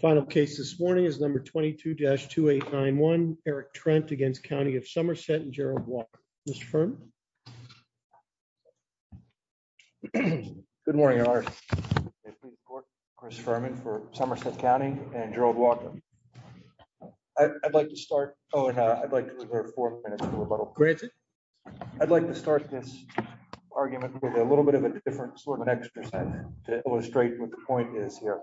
Final case this morning is number 22-2891, Eric Trent against County of Somerset and Gerald Walker. Mr. Furman. Good morning. Chris Furman for Somerset County and Gerald Walker. I'd like to start, oh, and I'd like to reserve four minutes for rebuttal. Granted. I'd like to start this argument with a little bit of a different sort of an exercise to illustrate what the point is here.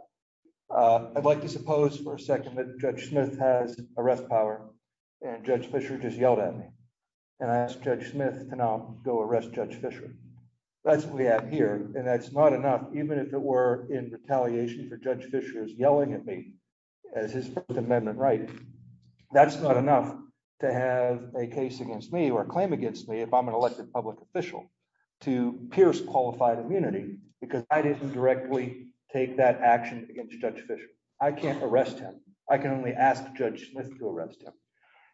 I'd like to suppose for a second that Judge Smith has arrest power and Judge Fisher just yelled at me. And I asked Judge Smith to now go arrest Judge Fisher. That's what we have here. And that's not enough, even if it were in retaliation for Judge Fisher's yelling at me as his First Amendment right. That's not enough to have a case against me or a claim against me if I'm an elected public official to pierce qualified immunity because I didn't directly take that action against Judge Fisher. I can't arrest him. I can only ask Judge Smith to arrest him.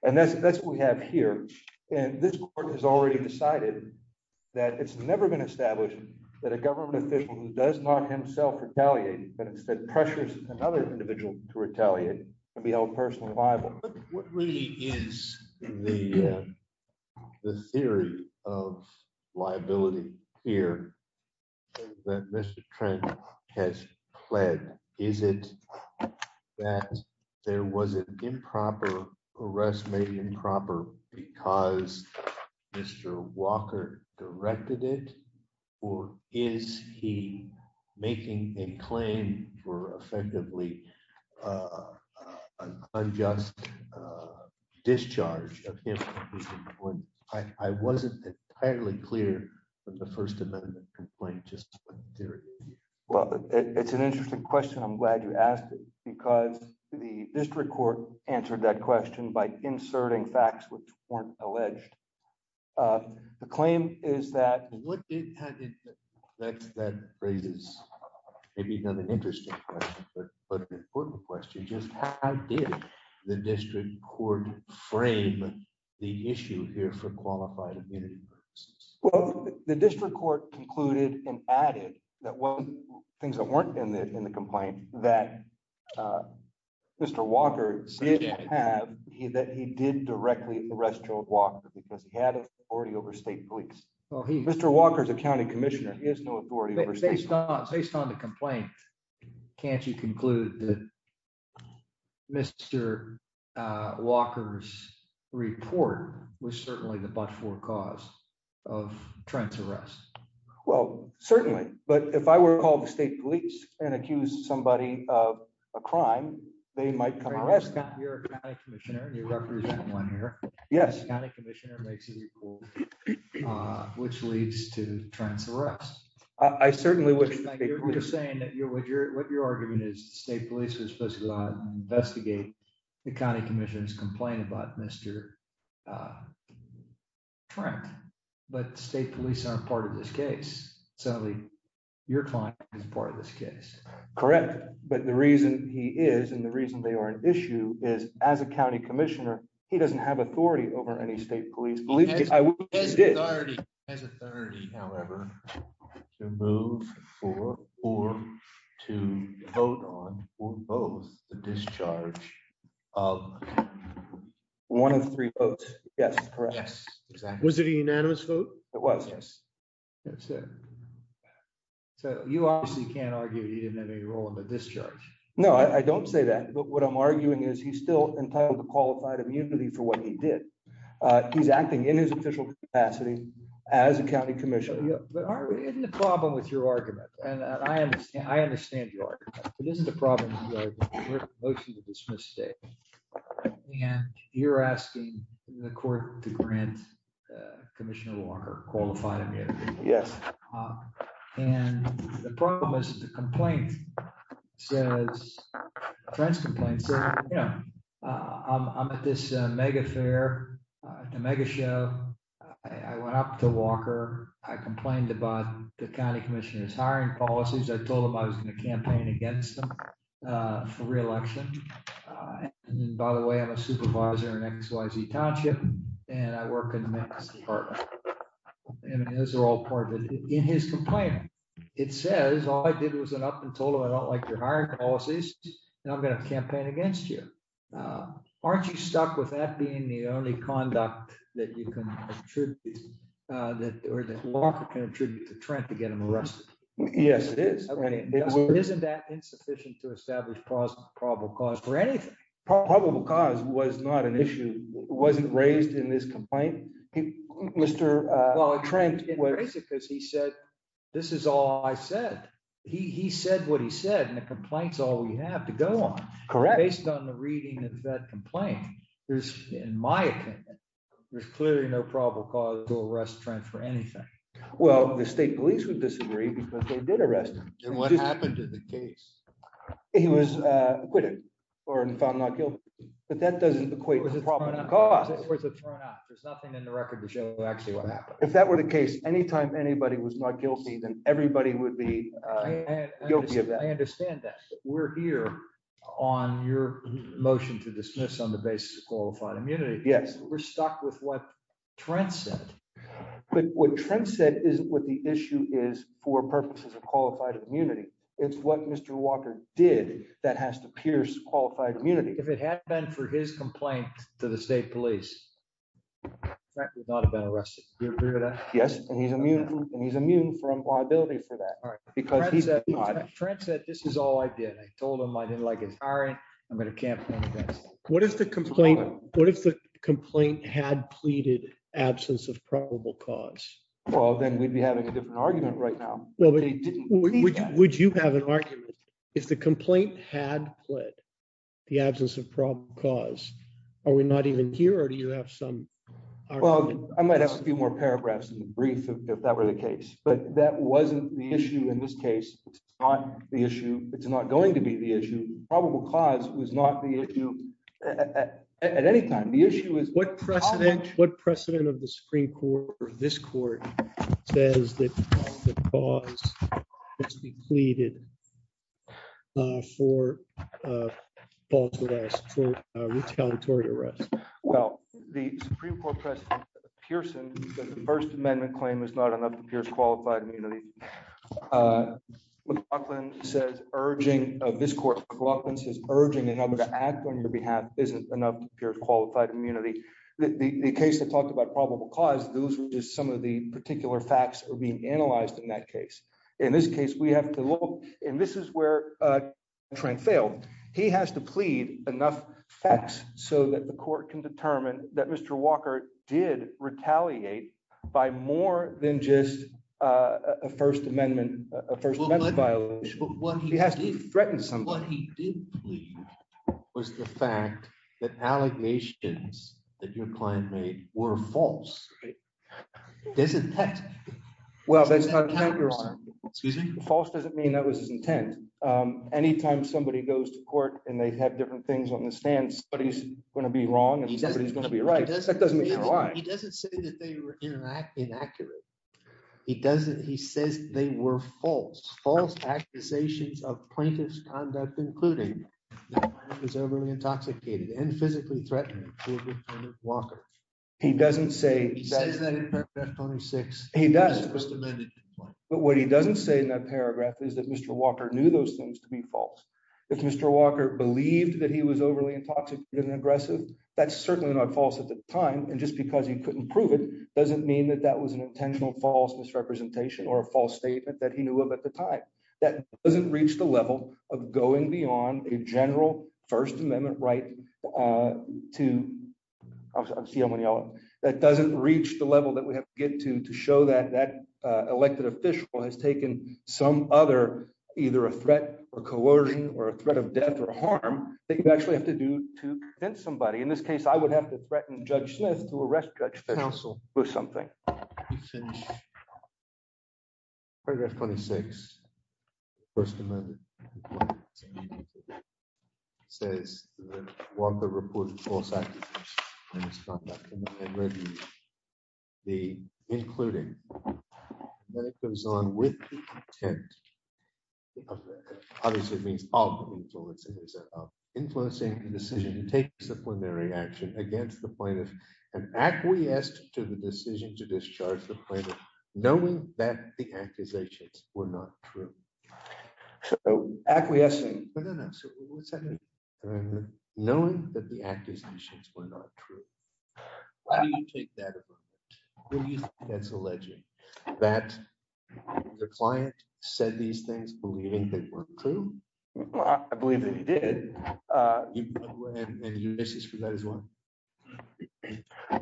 And that's what we have here. And this court has already decided that it's never been established that a government official who does not himself retaliate but instead pressures another individual to retaliate can be held personally liable. What really is the theory of liability here that Mr. Trent has pled? Is it that there was an improper arrest, maybe improper because Mr. Walker directed it or is he making a claim for effectively unjust discharge of him? I wasn't entirely clear from the First Amendment complaint just theory. Well, it's an interesting question. I'm glad you asked it because the district court answered that question by inserting facts, which weren't alleged. The claim is that- That raises maybe another interesting question but an important question. Just how did the district court frame the issue here for qualified immunity purposes? Well, the district court concluded and added that one of the things that weren't in the complaint that Mr. Walker did have, that he did directly arrest Joe Walker because he had authority over state police. Mr. Walker is a county commissioner. He has no authority over state police. Based on the complaint, can't you conclude that Mr. Walker's report was certainly the but-for cause of Trent's arrest? Well, certainly. But if I were to call the state police and accuse somebody of a crime, they might come arrest me. You're a county commissioner. You represent one here. Yes. County commissioner makes it equal, which leads to Trent's arrest. I certainly would- We're just saying that what your argument is, the state police was supposed to investigate the county commissioner's complaint about Mr. Trent. But state police aren't part of this case. Certainly, your client is part of this case. Correct. But the reason he is and the reason they are an issue is as a county commissioner, he doesn't have authority over any state police. He has authority, however, to move for or to vote on for both the discharge of- One of three votes. Yes, correct. Yes, exactly. Was it a unanimous vote? It was, yes. That's it. So you obviously can't argue he didn't have any role in the discharge. No, I don't say that. But what I'm arguing is he's still entitled to qualified immunity for what he did. He's acting in his official capacity as a county commissioner. But aren't we in the problem with your argument? And I understand your argument. It isn't a problem with your argument. You wrote a motion to dismiss state. And you're asking the court to grant Commissioner Walker qualified immunity. Yes. And the problem is the complaint says, Trent's complaint says, you know, I'm at this mega fair, a mega show. I went up to Walker. I complained about the county commissioner's hiring policies. I told him I was going to campaign against them for reelection. And then by the way, I'm a supervisor in XYZ Township and I work in the next department. And those are all part of it. In his complaint, it says, all I did was went up and told him I don't like your hiring policies and I'm going to campaign against you. Aren't you stuck with that being the only conduct that you can attribute or that Walker can attribute to Trent to get him arrested? Yes, it is. Isn't that insufficient to establish probable cause for anything? Probable cause was not an issue. It wasn't raised in this complaint, Mr. Trent was- It wasn't raised because he said, this is all I said. He said what he said and the complaint's all we have to go on. Correct. Based on the reading of that complaint. In my opinion, there's clearly no probable cause to arrest Trent for anything. Well, the state police would disagree because they did arrest him. And what happened to the case? He was acquitted or found not guilty. But that doesn't equate to probable cause. It was a turn off. There's nothing in the record to show actually what happened. If that were the case, anytime anybody was not guilty, then everybody would be guilty of that. I understand that. We're here on your motion to dismiss on the basis of qualified immunity. Yes. We're stuck with what Trent said. But what Trent said isn't what the issue is for purposes of qualified immunity. It's what Mr. Walker did that has to pierce qualified immunity. If it had been for his complaint to the state police, Trent would not have been arrested. Do you agree with that? Yes. And he's immune from liability for that. All right. Because he's- Trent said, this is all I did. I told him I didn't like his hiring. I'm going to campaign against him. What if the complaint had pleaded absence of probable cause? Well, then we'd be having a different argument right now. Would you have an argument? If the complaint had pleaded the absence of probable cause, are we not even here or do you have some argument? I might have a few more paragraphs in the brief if that were the case. But that wasn't the issue in this case. It's not the issue. It's not going to be the issue. Probable cause was not the issue at any time. The issue is- What precedent of the Supreme Court or this court says that the cause must be pleaded for false arrest, for retaliatory arrest? Well, the Supreme Court precedent of Pearson that the first amendment claim is not enough to pierce qualified immunity. McLaughlin says urging of this court, McLaughlin says urging to have them to act on your behalf isn't enough to pierce qualified immunity. The case that talked about probable cause, those were just some of the particular facts are being analyzed in that case. In this case, we have to look, and this is where Trent failed. He has to plead enough facts so that the court can determine that Mr. Walker did retaliate by more than just a first amendment claim. A first amendment violation. He has to threaten somebody. What he did plead was the fact that allegations that your client made were false. Isn't that- Well, that's not- Excuse me? False doesn't mean that was his intent. Anytime somebody goes to court and they have different things on the stand, somebody's going to be wrong and somebody's going to be right. That doesn't mean they're lying. He doesn't say that they were inaccurate. He doesn't. He says they were false. False accusations of plaintiff's conduct, including his overly intoxicated and physically threatening to a defendant Walker. He doesn't say- He says that in paragraph 26. He does. But what he doesn't say in that paragraph is that Mr. Walker knew those things to be false. If Mr. Walker believed that he was overly intoxicated and aggressive, that's certainly not false at the time. And just because he couldn't prove it doesn't mean that that was an intentional false misrepresentation or a false statement that he knew of at the time. That doesn't reach the level of going beyond a general First Amendment right to, I'm seeing how many y'all, that doesn't reach the level that we have to get to to show that that elected official has taken some other, either a threat or coercion or a threat of death or harm that you actually have to do to convince somebody. In this case, I would have to threaten Judge Smith to arrest Judge Fish. Counsel or something. Paragraph 26, First Amendment. It says that the Walker report of false activism and misconduct cannot be included. Then it goes on with the intent of, obviously it means of influencing the decision to take disciplinary action against the plaintiff and acquiesced to the decision to discharge the plaintiff knowing that the accusations were not true. Acquiescing? No, no, no. So what's that mean? Knowing that the accusations were not true. Why do you take that approach? What do you think that's alleging? That the client said these things believing they weren't true? I believe that he did. And Ulysses for that as well.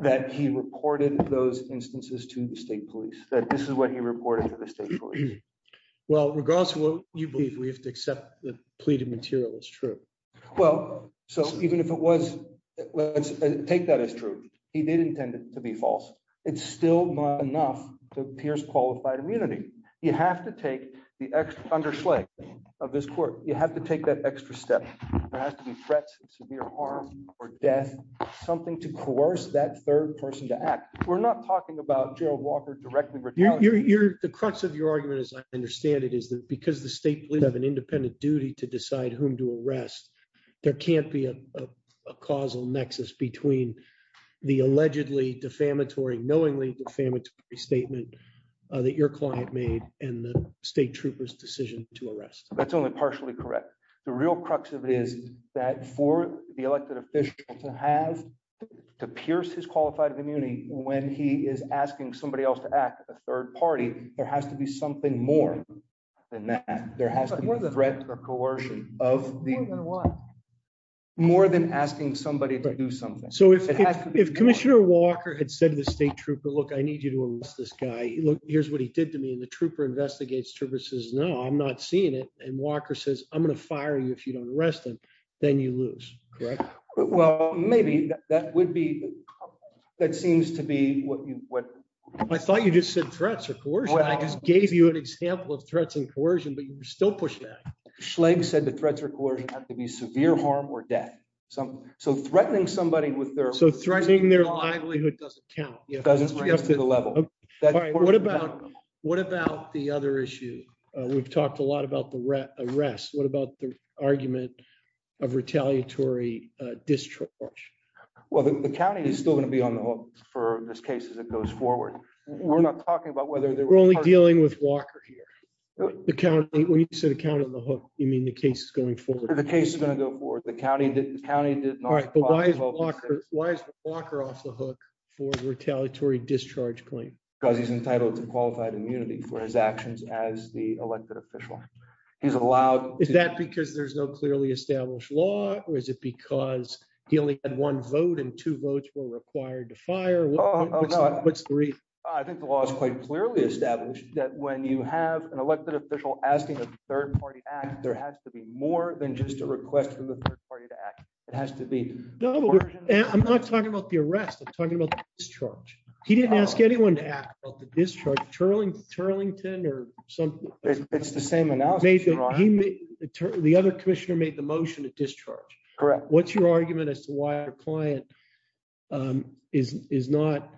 That he reported those instances to the state police. That this is what he reported to the state police. Well, regardless of what you believe, we have to accept the plea to material is true. Well, so even if it was, let's take that as true. He did intend it to be false. It's still not enough to pierce qualified immunity. You have to take the underslay of this court. You have to take that extra step. There has to be threats of severe harm or death. Something to coerce that third person to act. We're not talking about Gerald Walker directly. The crux of your argument, as I understand it, is that because the state police have an independent duty to decide whom to arrest, there can't be a causal nexus between the allegedly defamatory, and the state trooper's decision to arrest. That's only partially correct. The real crux of it is that for the elected official to have, to pierce his qualified immunity when he is asking somebody else to act, a third party, there has to be something more than that. There has to be a threat or coercion of the- More than what? More than asking somebody to do something. So if Commissioner Walker had said to the state trooper, look, I need you to arrest this guy. Here's what he did to me. And the trooper investigates, trooper says, no, I'm not seeing it. And Walker says, I'm gonna fire you if you don't arrest him, then you lose, correct? Well, maybe that would be, that seems to be what you would- I thought you just said threats or coercion. I just gave you an example of threats and coercion, but you're still pushing that. Schlegg said the threats or coercion have to be severe harm or death. So threatening somebody with their- So threatening their livelihood doesn't count. It doesn't bring us to the level. All right, what about the other issue? We've talked a lot about the arrest. What about the argument of retaliatory discharge? Well, the county is still gonna be on the hook for this case as it goes forward. We're not talking about whether- We're only dealing with Walker here. The county, when you say the county on the hook, you mean the case is going forward. The case is gonna go forward. The county did not- All right, but why is Walker off the hook for a retaliatory discharge claim? Because he's entitled to qualified immunity for his actions as the elected official. He's allowed- Is that because there's no clearly established law or is it because he only had one vote and two votes were required to fire? What's the reason? I think the law is quite clearly established that when you have an elected official asking a third party act, there has to be more than just a request from the third party to act. It has to be coercion- I'm not talking about the arrest. I'm talking about the discharge. He didn't ask anyone to act about the discharge. Turlington or some- It's the same analysis, Your Honor. The other commissioner made the motion to discharge. Correct. What's your argument as to why a client is not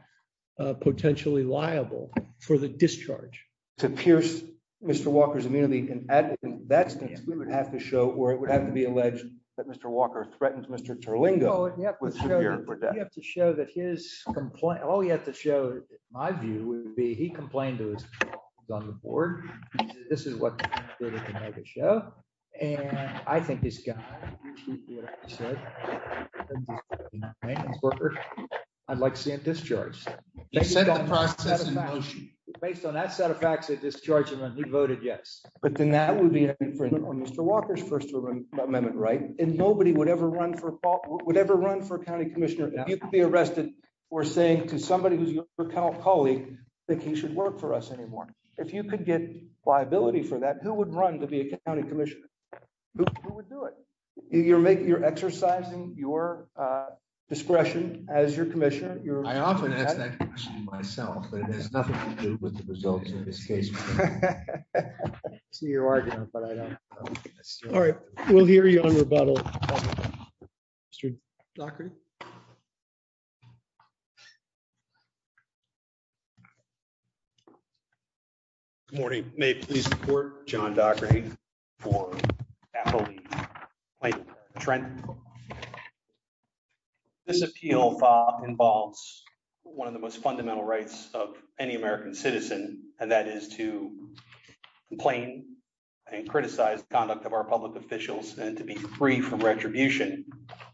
potentially liable for the discharge? To pierce Mr. Walker's immunity. And in that instance, we would have to show, or it would have to be alleged that Mr. Walker threatened Mr. Terlingo with severe protection. We have to show that his complaint- All we have to show, in my view, would be he complained to his colleagues on the board. This is what they can make it show. And I think this guy said, I'd like to see him discharged. He said the process in motion. Based on that set of facts, they discharged him and he voted yes. But then that would be for Mr. Walker's first amendment, right? And nobody would ever run for a county commissioner if you could be arrested for saying to somebody who's your colleague that he should work for us anymore. If you could get liability for that, who would run to be a county commissioner? Who would do it? You're exercising your discretion as your commissioner. I often ask that question myself, but it has nothing to do with the results of this case. I see your argument, but I don't. All right. We'll hear you on rebuttal, Mr. Dockery. Thank you. Good morning. May it please the court, John Dockery for appellee. This appeal involves one of the most fundamental rights of any American citizen, and that is to complain and criticize conduct of our public officials and to be free from retribution.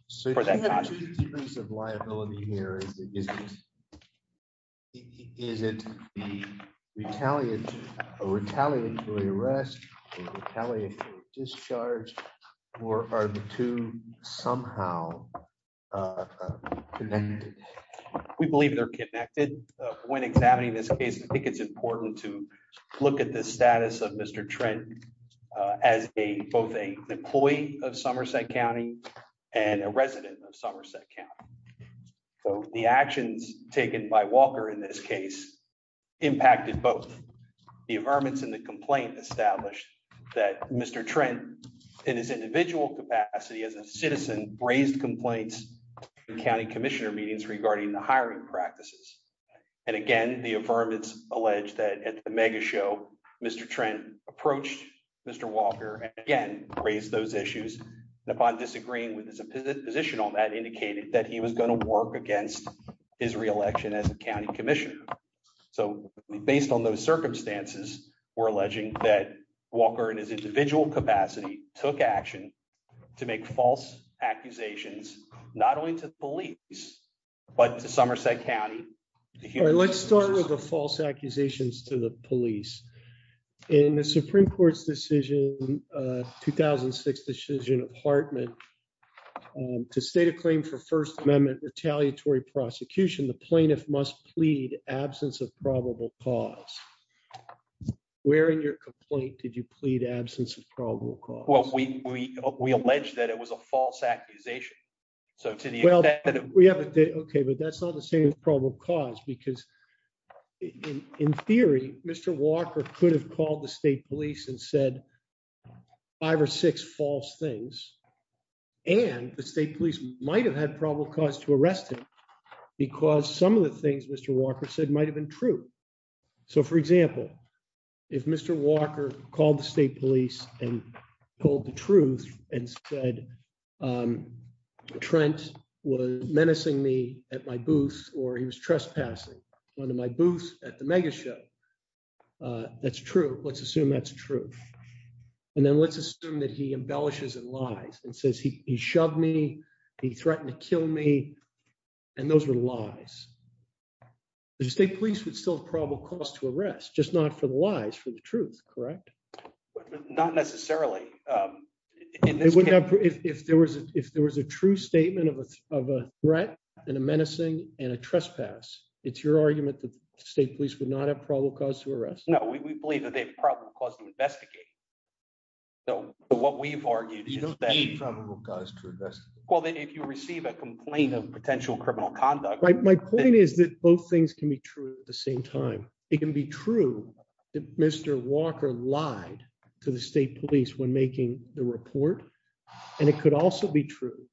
So if you have two degrees of liability here, is it the retaliatory arrest or retaliatory discharge or are the two somehow connected? We believe they're connected. When examining this case, I think it's important to look at the status of Mr. Trent as both an employee of Somerset County and a resident of Somerset County. So the actions taken by Walker in this case impacted both. The affirmance in the complaint established that Mr. Trent in his individual capacity as a citizen raised complaints in county commissioner meetings regarding the hiring practices. And again, the affirmance alleged that at the mega show, Mr. Trent approached Mr. Walker and again, raised those issues. And upon disagreeing with his position on that, indicated that he was gonna work against his reelection as a county commissioner. So based on those circumstances, we're alleging that Walker in his individual capacity took action to make false accusations, not only to police, but to Somerset County. Let's start with the false accusations to the police. In the Supreme Court's decision, 2006 decision of Hartman to state a claim for first amendment retaliatory prosecution the plaintiff must plead absence of probable cause. Where in your complaint did you plead absence of probable cause? Well, we allege that it was a false accusation. So to the effect that- Okay, but that's not the same as probable cause because in theory, Mr. Walker could have called the state police and said five or six false things. And the state police might've had probable cause to arrest him because some of the things Mr. Walker said might've been true. So for example, if Mr. Walker called the state police and told the truth and said, Trent was menacing me at my booth or he was trespassing onto my booth at the mega show, that's true. Let's assume that's true. And then let's assume that he embellishes and lies and says he shoved me, he threatened to kill me and those were lies. The state police would still have probable cause to arrest just not for the lies, for the truth, correct? Not necessarily. If there was a true statement of a threat and a menacing and a trespass, it's your argument that the state police would not have probable cause to arrest? No, we believe that they have probable cause to investigate. So what we've argued is that- You know that's probable cause to investigate. Well, then if you receive a complaint of potential criminal conduct- My point is that both things can be true at the same time. It can be true that Mr. Walker lied to the state police when making the report. And it could also be true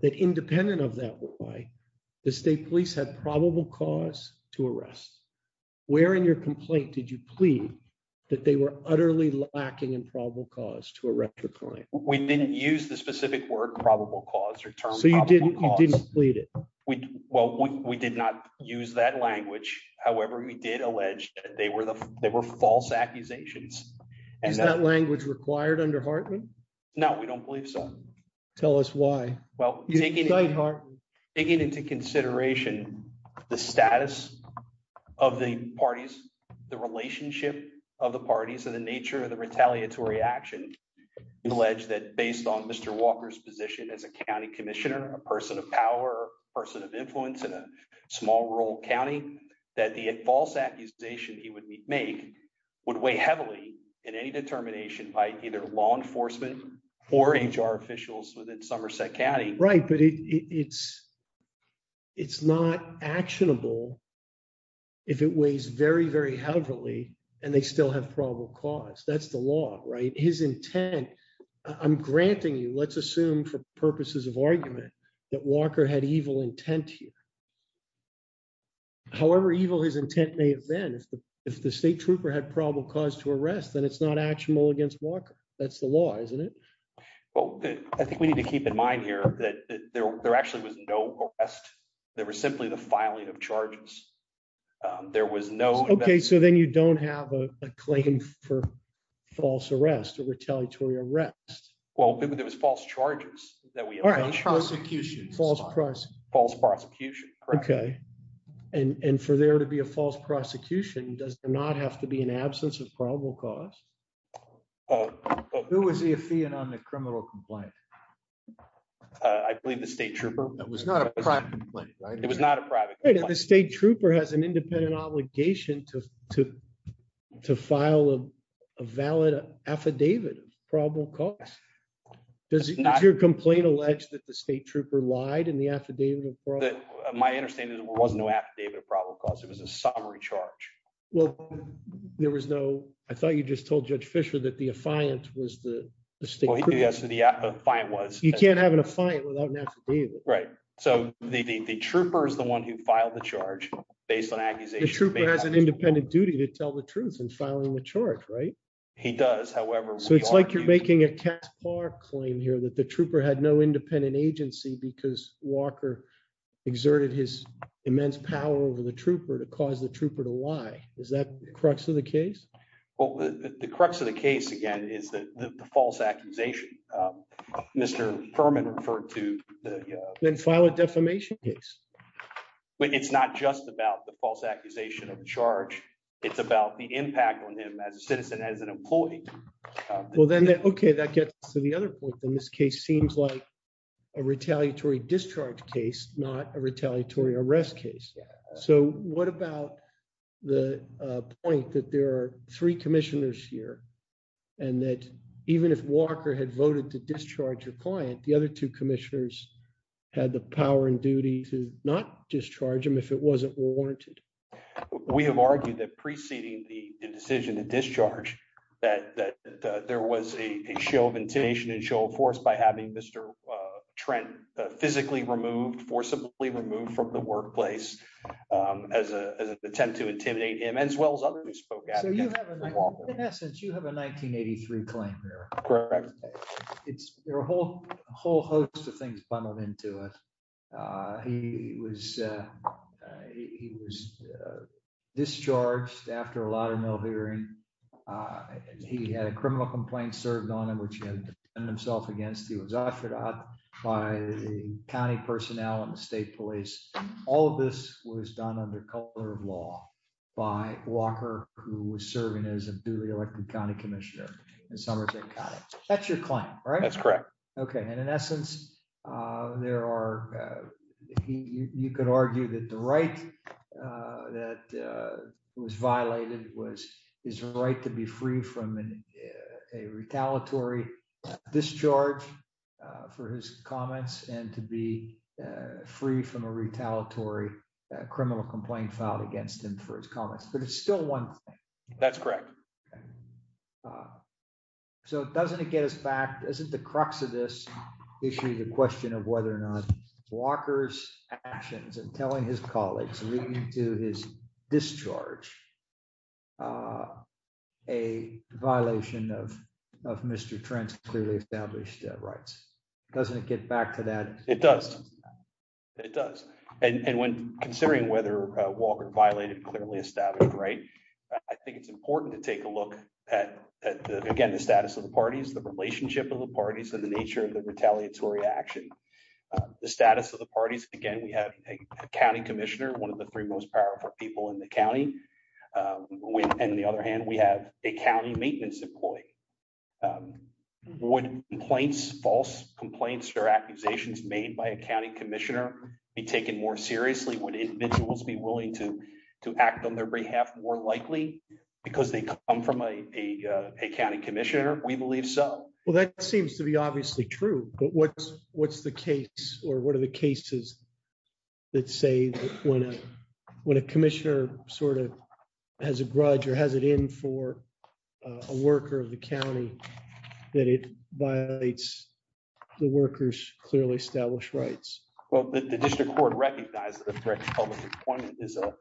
that independent of that lie, the state police had probable cause to arrest. Where in your complaint did you plead that they were utterly lacking in probable cause to arrest the client? We didn't use the specific word probable cause or term probable cause. So you didn't plead it? Well, we did not use that language. However, we did allege that they were false accusations. Is that language required under Hartman? No, we don't believe so. Tell us why. Well, taking into consideration the status of the parties, the relationship of the parties and the nature of the retaliatory action, we allege that based on Mr. Walker's position as a county commissioner, a person of power, person of influence in a small rural county, that the false accusation he would make would weigh heavily in any determination by either law enforcement or HR officials within Somerset County. Right, but it's not actionable if it weighs very, very heavily and they still have probable cause. That's the law, right? His intent, I'm granting you, let's assume for purposes of argument that Walker had evil intent here. However evil his intent may have been, if the state trooper had probable cause to arrest, then it's not actionable against Walker. That's the law, isn't it? Well, I think we need to keep in mind here that there actually was no arrest. There was simply the filing of charges. There was no- Okay, so then you don't have a claim for false arrest or retaliatory arrest. Well, there was false charges that we allege. False prosecution. False prosecution. False prosecution, correct. Okay, and for there to be a false prosecution, does there not have to be an absence of probable cause? Who was the affiant on the criminal complaint? I believe the state trooper. That was not a private complaint, right? It was not a private complaint. And the state trooper has an independent obligation to file a valid affidavit of probable cause. Does your complaint allege that the state trooper lied in the affidavit of probable cause? My understanding is there was no affidavit of probable cause. It was a summary charge. Well, there was no... I thought you just told Judge Fischer that the affiant was the state trooper. Yes, the affiant was. You can't have an affiant without an affidavit. Right, so the trooper is the one who filed the charge based on accusations- The trooper has an independent duty to tell the truth in filing the charge, right? He does, however- So it's like you're making a Caspar claim here that the trooper had no independent agency because Walker exerted his immense power over the trooper to cause the trooper to lie. Is that the crux of the case? Well, the crux of the case, again, is that the false accusation. Mr. Furman referred to the- Then file a defamation case. But it's not just about the false accusation of charge. It's about the impact on him as a citizen, as an employee. Well, then, okay, that gets to the other point. Then this case seems like a retaliatory discharge case, not a retaliatory arrest case. So what about the point that there are three commissioners here and that even if Walker had voted to discharge a client, the other two commissioners had the power and duty to not discharge him if it wasn't warranted? We have argued that preceding the decision to discharge, that there was a show of intimidation and a show of force by having Mr. Trent physically removed, forcibly removed from the workplace as an attempt to intimidate him, as well as others who spoke out against Walker. In essence, you have a 1983 claim here. Correct. It's a whole host of things bundled into it. He was discharged after a lot of no hearing and he had a criminal complaint served on him, which he had defended himself against. He was offered out by the county personnel and the state police. All of this was done under color of law by Walker, who was serving as a duly elected county commissioner in Somerton County. That's your claim, right? That's correct. Okay, and in essence, you could argue that the right that was violated was his right to be free from a retaliatory discharge for his comments and to be free from a retaliatory criminal complaint filed against him for his comments. But it's still one thing. That's correct. So doesn't it get us back, isn't the crux of this issue the question of whether or not Walker's actions and telling his colleagues leading to his discharge a violation of Mr. Trent's clearly established rights? Doesn't it get back to that? It does. It does. And when considering whether Walker violated clearly established right, I think it's important to take a look at, again, the status of the parties, the relationship of the parties and the nature of the retaliatory action. The status of the parties, again, we have a county commissioner, one of the three most powerful people in the county. And the other hand, we have a county maintenance employee. Would complaints, false complaints or accusations made by a county commissioner be taken more seriously? Would individuals be willing to act on their behalf more likely because they come from a county commissioner? We believe so. Well, that seems to be obviously true, but what's the case or what are the cases that say when a commissioner sort of has a grudge or has it in for a worker of the county that it violates the worker's clearly established rights? Well, the district court recognizes the threat to public employment is a-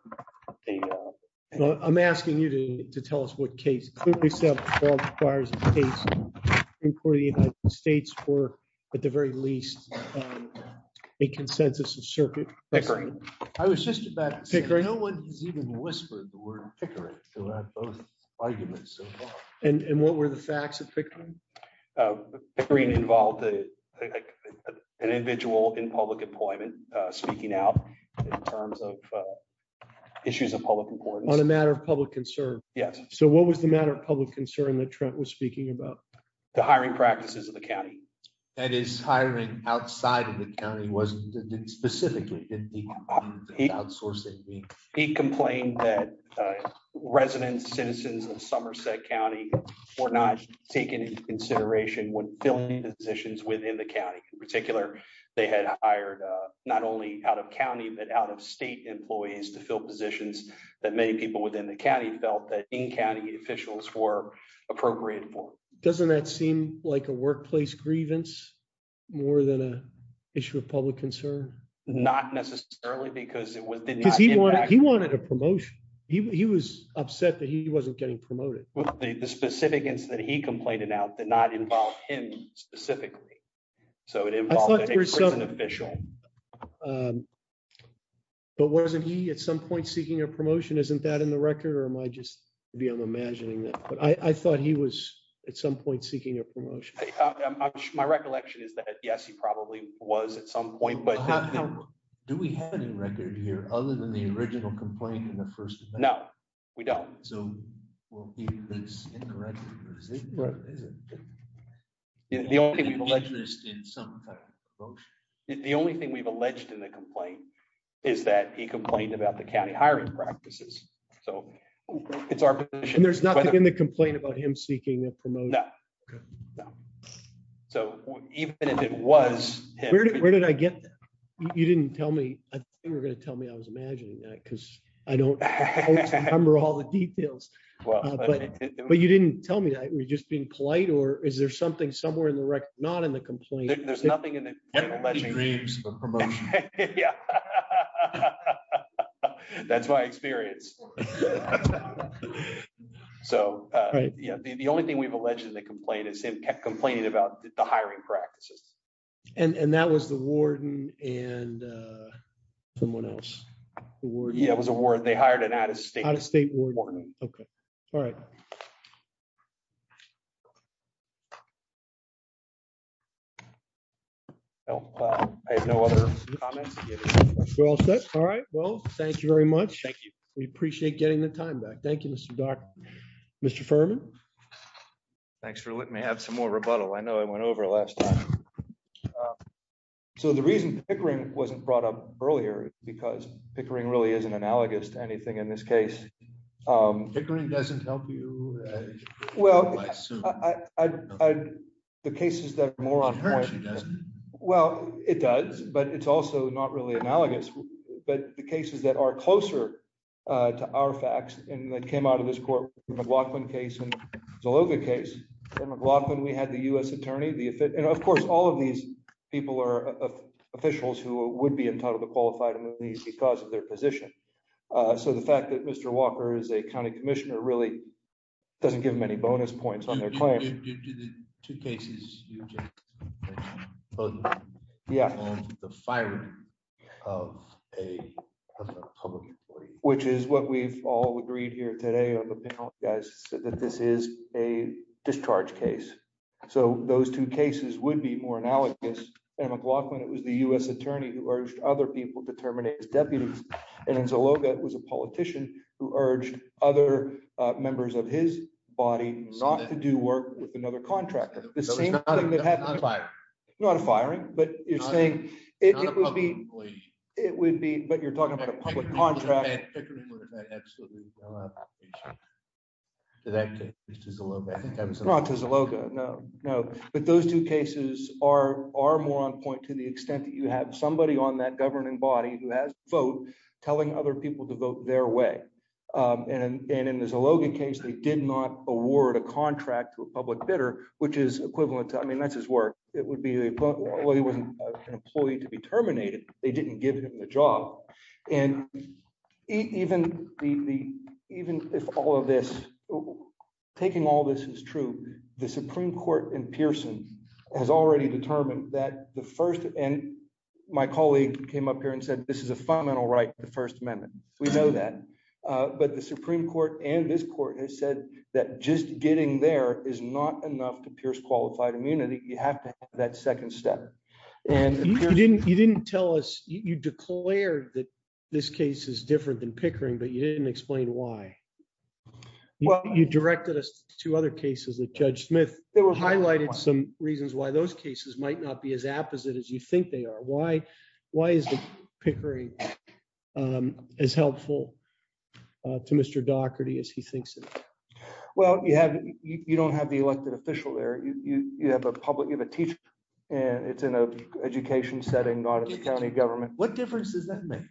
I'm asking you to tell us what case. Clearly established law requires a case in court of the United States for, at the very least, a consensus of circuit. Pickering. I was just about to say, no one has even whispered the word Pickering throughout both arguments so far. And what were the facts of Pickering? Pickering involved an individual in public employment speaking out in terms of issues of public importance. On a matter of public concern. Yes. So what was the matter of public concern that Trent was speaking about? The hiring practices of the county. And his hiring outside of the county wasn't specifically in the outsourcing. He complained that residents, citizens of Somerset County were not taking into consideration when filling positions within the county. In particular, they had hired not only out of county, but out of state employees to fill positions that many people within the county felt that in-county officials were appropriate for. Doesn't that seem like a workplace grievance more than an issue of public concern? Not necessarily because it was... Because he wanted a promotion. He was upset that he wasn't getting promoted. The specific incident that he complained about did not involve him specifically. So it involved an ex-prison official. But wasn't he at some point seeking a promotion? Isn't that in the record or am I just beyond imagining that? But I thought he was at some point seeking a promotion. My recollection is that, yes, he probably was at some point, but... Do we have any record here other than the original complaint in the first? No, we don't. So we'll keep this incorrect. The only thing we've alleged in some kind of promotion. The only thing we've alleged in the complaint is that he complained about the county hiring practices. So it's our position. And there's nothing in the complaint about him seeking a promotion? No. So even if it was him... Where did I get that? You didn't tell me. I think you were gonna tell me I was imagining that because I don't remember all the details. But you didn't tell me that. Were you just being polite or is there something somewhere in the record not in the complaint? There's nothing in the complaint. He agrees for promotion. Yeah. That's my experience. So the only thing we've alleged in the complaint is him kept complaining about the hiring practices. And that was the warden and someone else. Yeah, it was a warden. They hired an out of state. Out of state warden. Okay, all right. All right. No, I have no other comments. We're all set. All right, well, thank you very much. Thank you. We appreciate getting the time back. Thank you, Mr. Dark. Mr. Furman. Thanks for letting me have some more rebuttal. I know I went over it last time. So the reason Pickering wasn't brought up earlier because Pickering really isn't analogous to anything in this case. Pickering doesn't help you. Well, the cases that are more on point. Well, it does, but it's also not really analogous. But the cases that are closer to our facts and that came out of this court, the McLaughlin case and Zaloga case. For McLaughlin, we had the US attorney. And of course, all of these people are officials who would be entitled to qualified amnesties because of their position. So the fact that Mr. Walker is a county commissioner really doesn't give him any bonus points on their claim. Due to the two cases you just mentioned, both the phone and the firing of a public employee. Which is what we've all agreed here today on the panel, guys, that this is a discharge case. So those two cases would be more analogous. And McLaughlin, it was the US attorney who urged other people to terminate as deputies. And Zaloga was a politician who urged other members of his body not to do work with another contractor. The same thing that happened- Not a firing. Not a firing. But you're saying it would be, but you're talking about a public contract. Pickering would have absolutely done that. To that case, to Zaloga. Not to Zaloga, no, no. But those two cases are more on point to the extent that you have somebody on that governing body who has a vote telling other people to vote their way. And in the Zaloga case, they did not award a contract to a public bidder, which is equivalent to, I mean, that's his work. It would be, well, he wasn't an employee to be terminated. They didn't give him the job. And even if all of this, taking all this as true, the Supreme Court in Pearson has already determined that the first, and my colleague came up here and said, this is a fundamental right to the First Amendment. We know that. But the Supreme Court and this court has said that just getting there is not enough to pierce qualified immunity. You have to have that second step. And- You didn't tell us, you declared that this case is different than Pickering, but you didn't explain why. Well- You directed us to other cases that Judge Smith highlighted some reasons why those cases might not be as apposite as you think they are. Why is Pickering as helpful to Mr. Dougherty as he thinks it is? Well, you don't have the elected official there. You have a public, you have a teacher, and it's in an education setting, not in the county government. What difference does that make?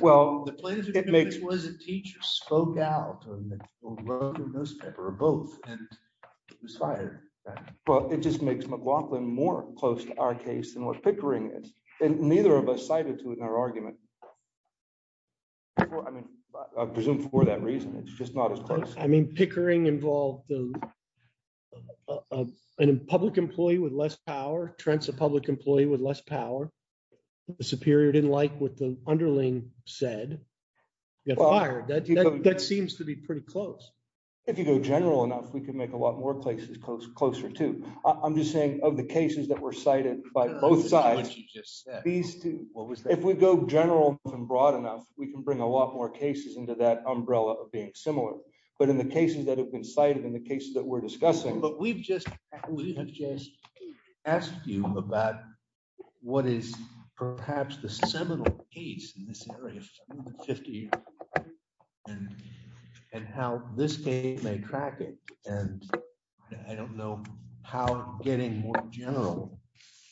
Well, it makes- The plaintiff's witness was a teacher. Spoke out on the newspaper, or both, and was fired. Well, it just makes McLaughlin more close to our case than what Pickering is. And neither of us cited to it in our argument. I mean, I presume for that reason. It's just not as close. I mean, Pickering involved a public employee with less power, Trent's a public employee with less power. The superior didn't like what the underling said. He got fired. That seems to be pretty close. If you go general enough, we can make a lot more places closer, too. I'm just saying of the cases that were cited by both sides, if we go general and broad enough, we can bring a lot more cases into that umbrella of being similar. But in the cases that have been cited, in the cases that we're discussing- But we've just asked you about what is perhaps the seminal case in this area of 50 years and how this case may track it. And I don't know how getting more general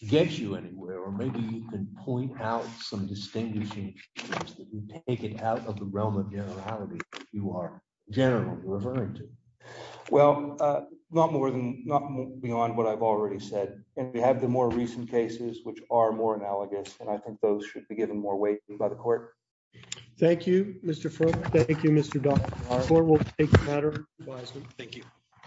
gets you anywhere. Or maybe you can point out some distinguishing features that you take it out of the realm of generality you are generally referring to. Well, not beyond what I've already said. And we have the more recent cases, which are more analogous. And I think those should be given more weight by the court. Thank you, Mr. Frum. Thank you, Mr. Dodd. The court will take the matter into advisement. Thank you.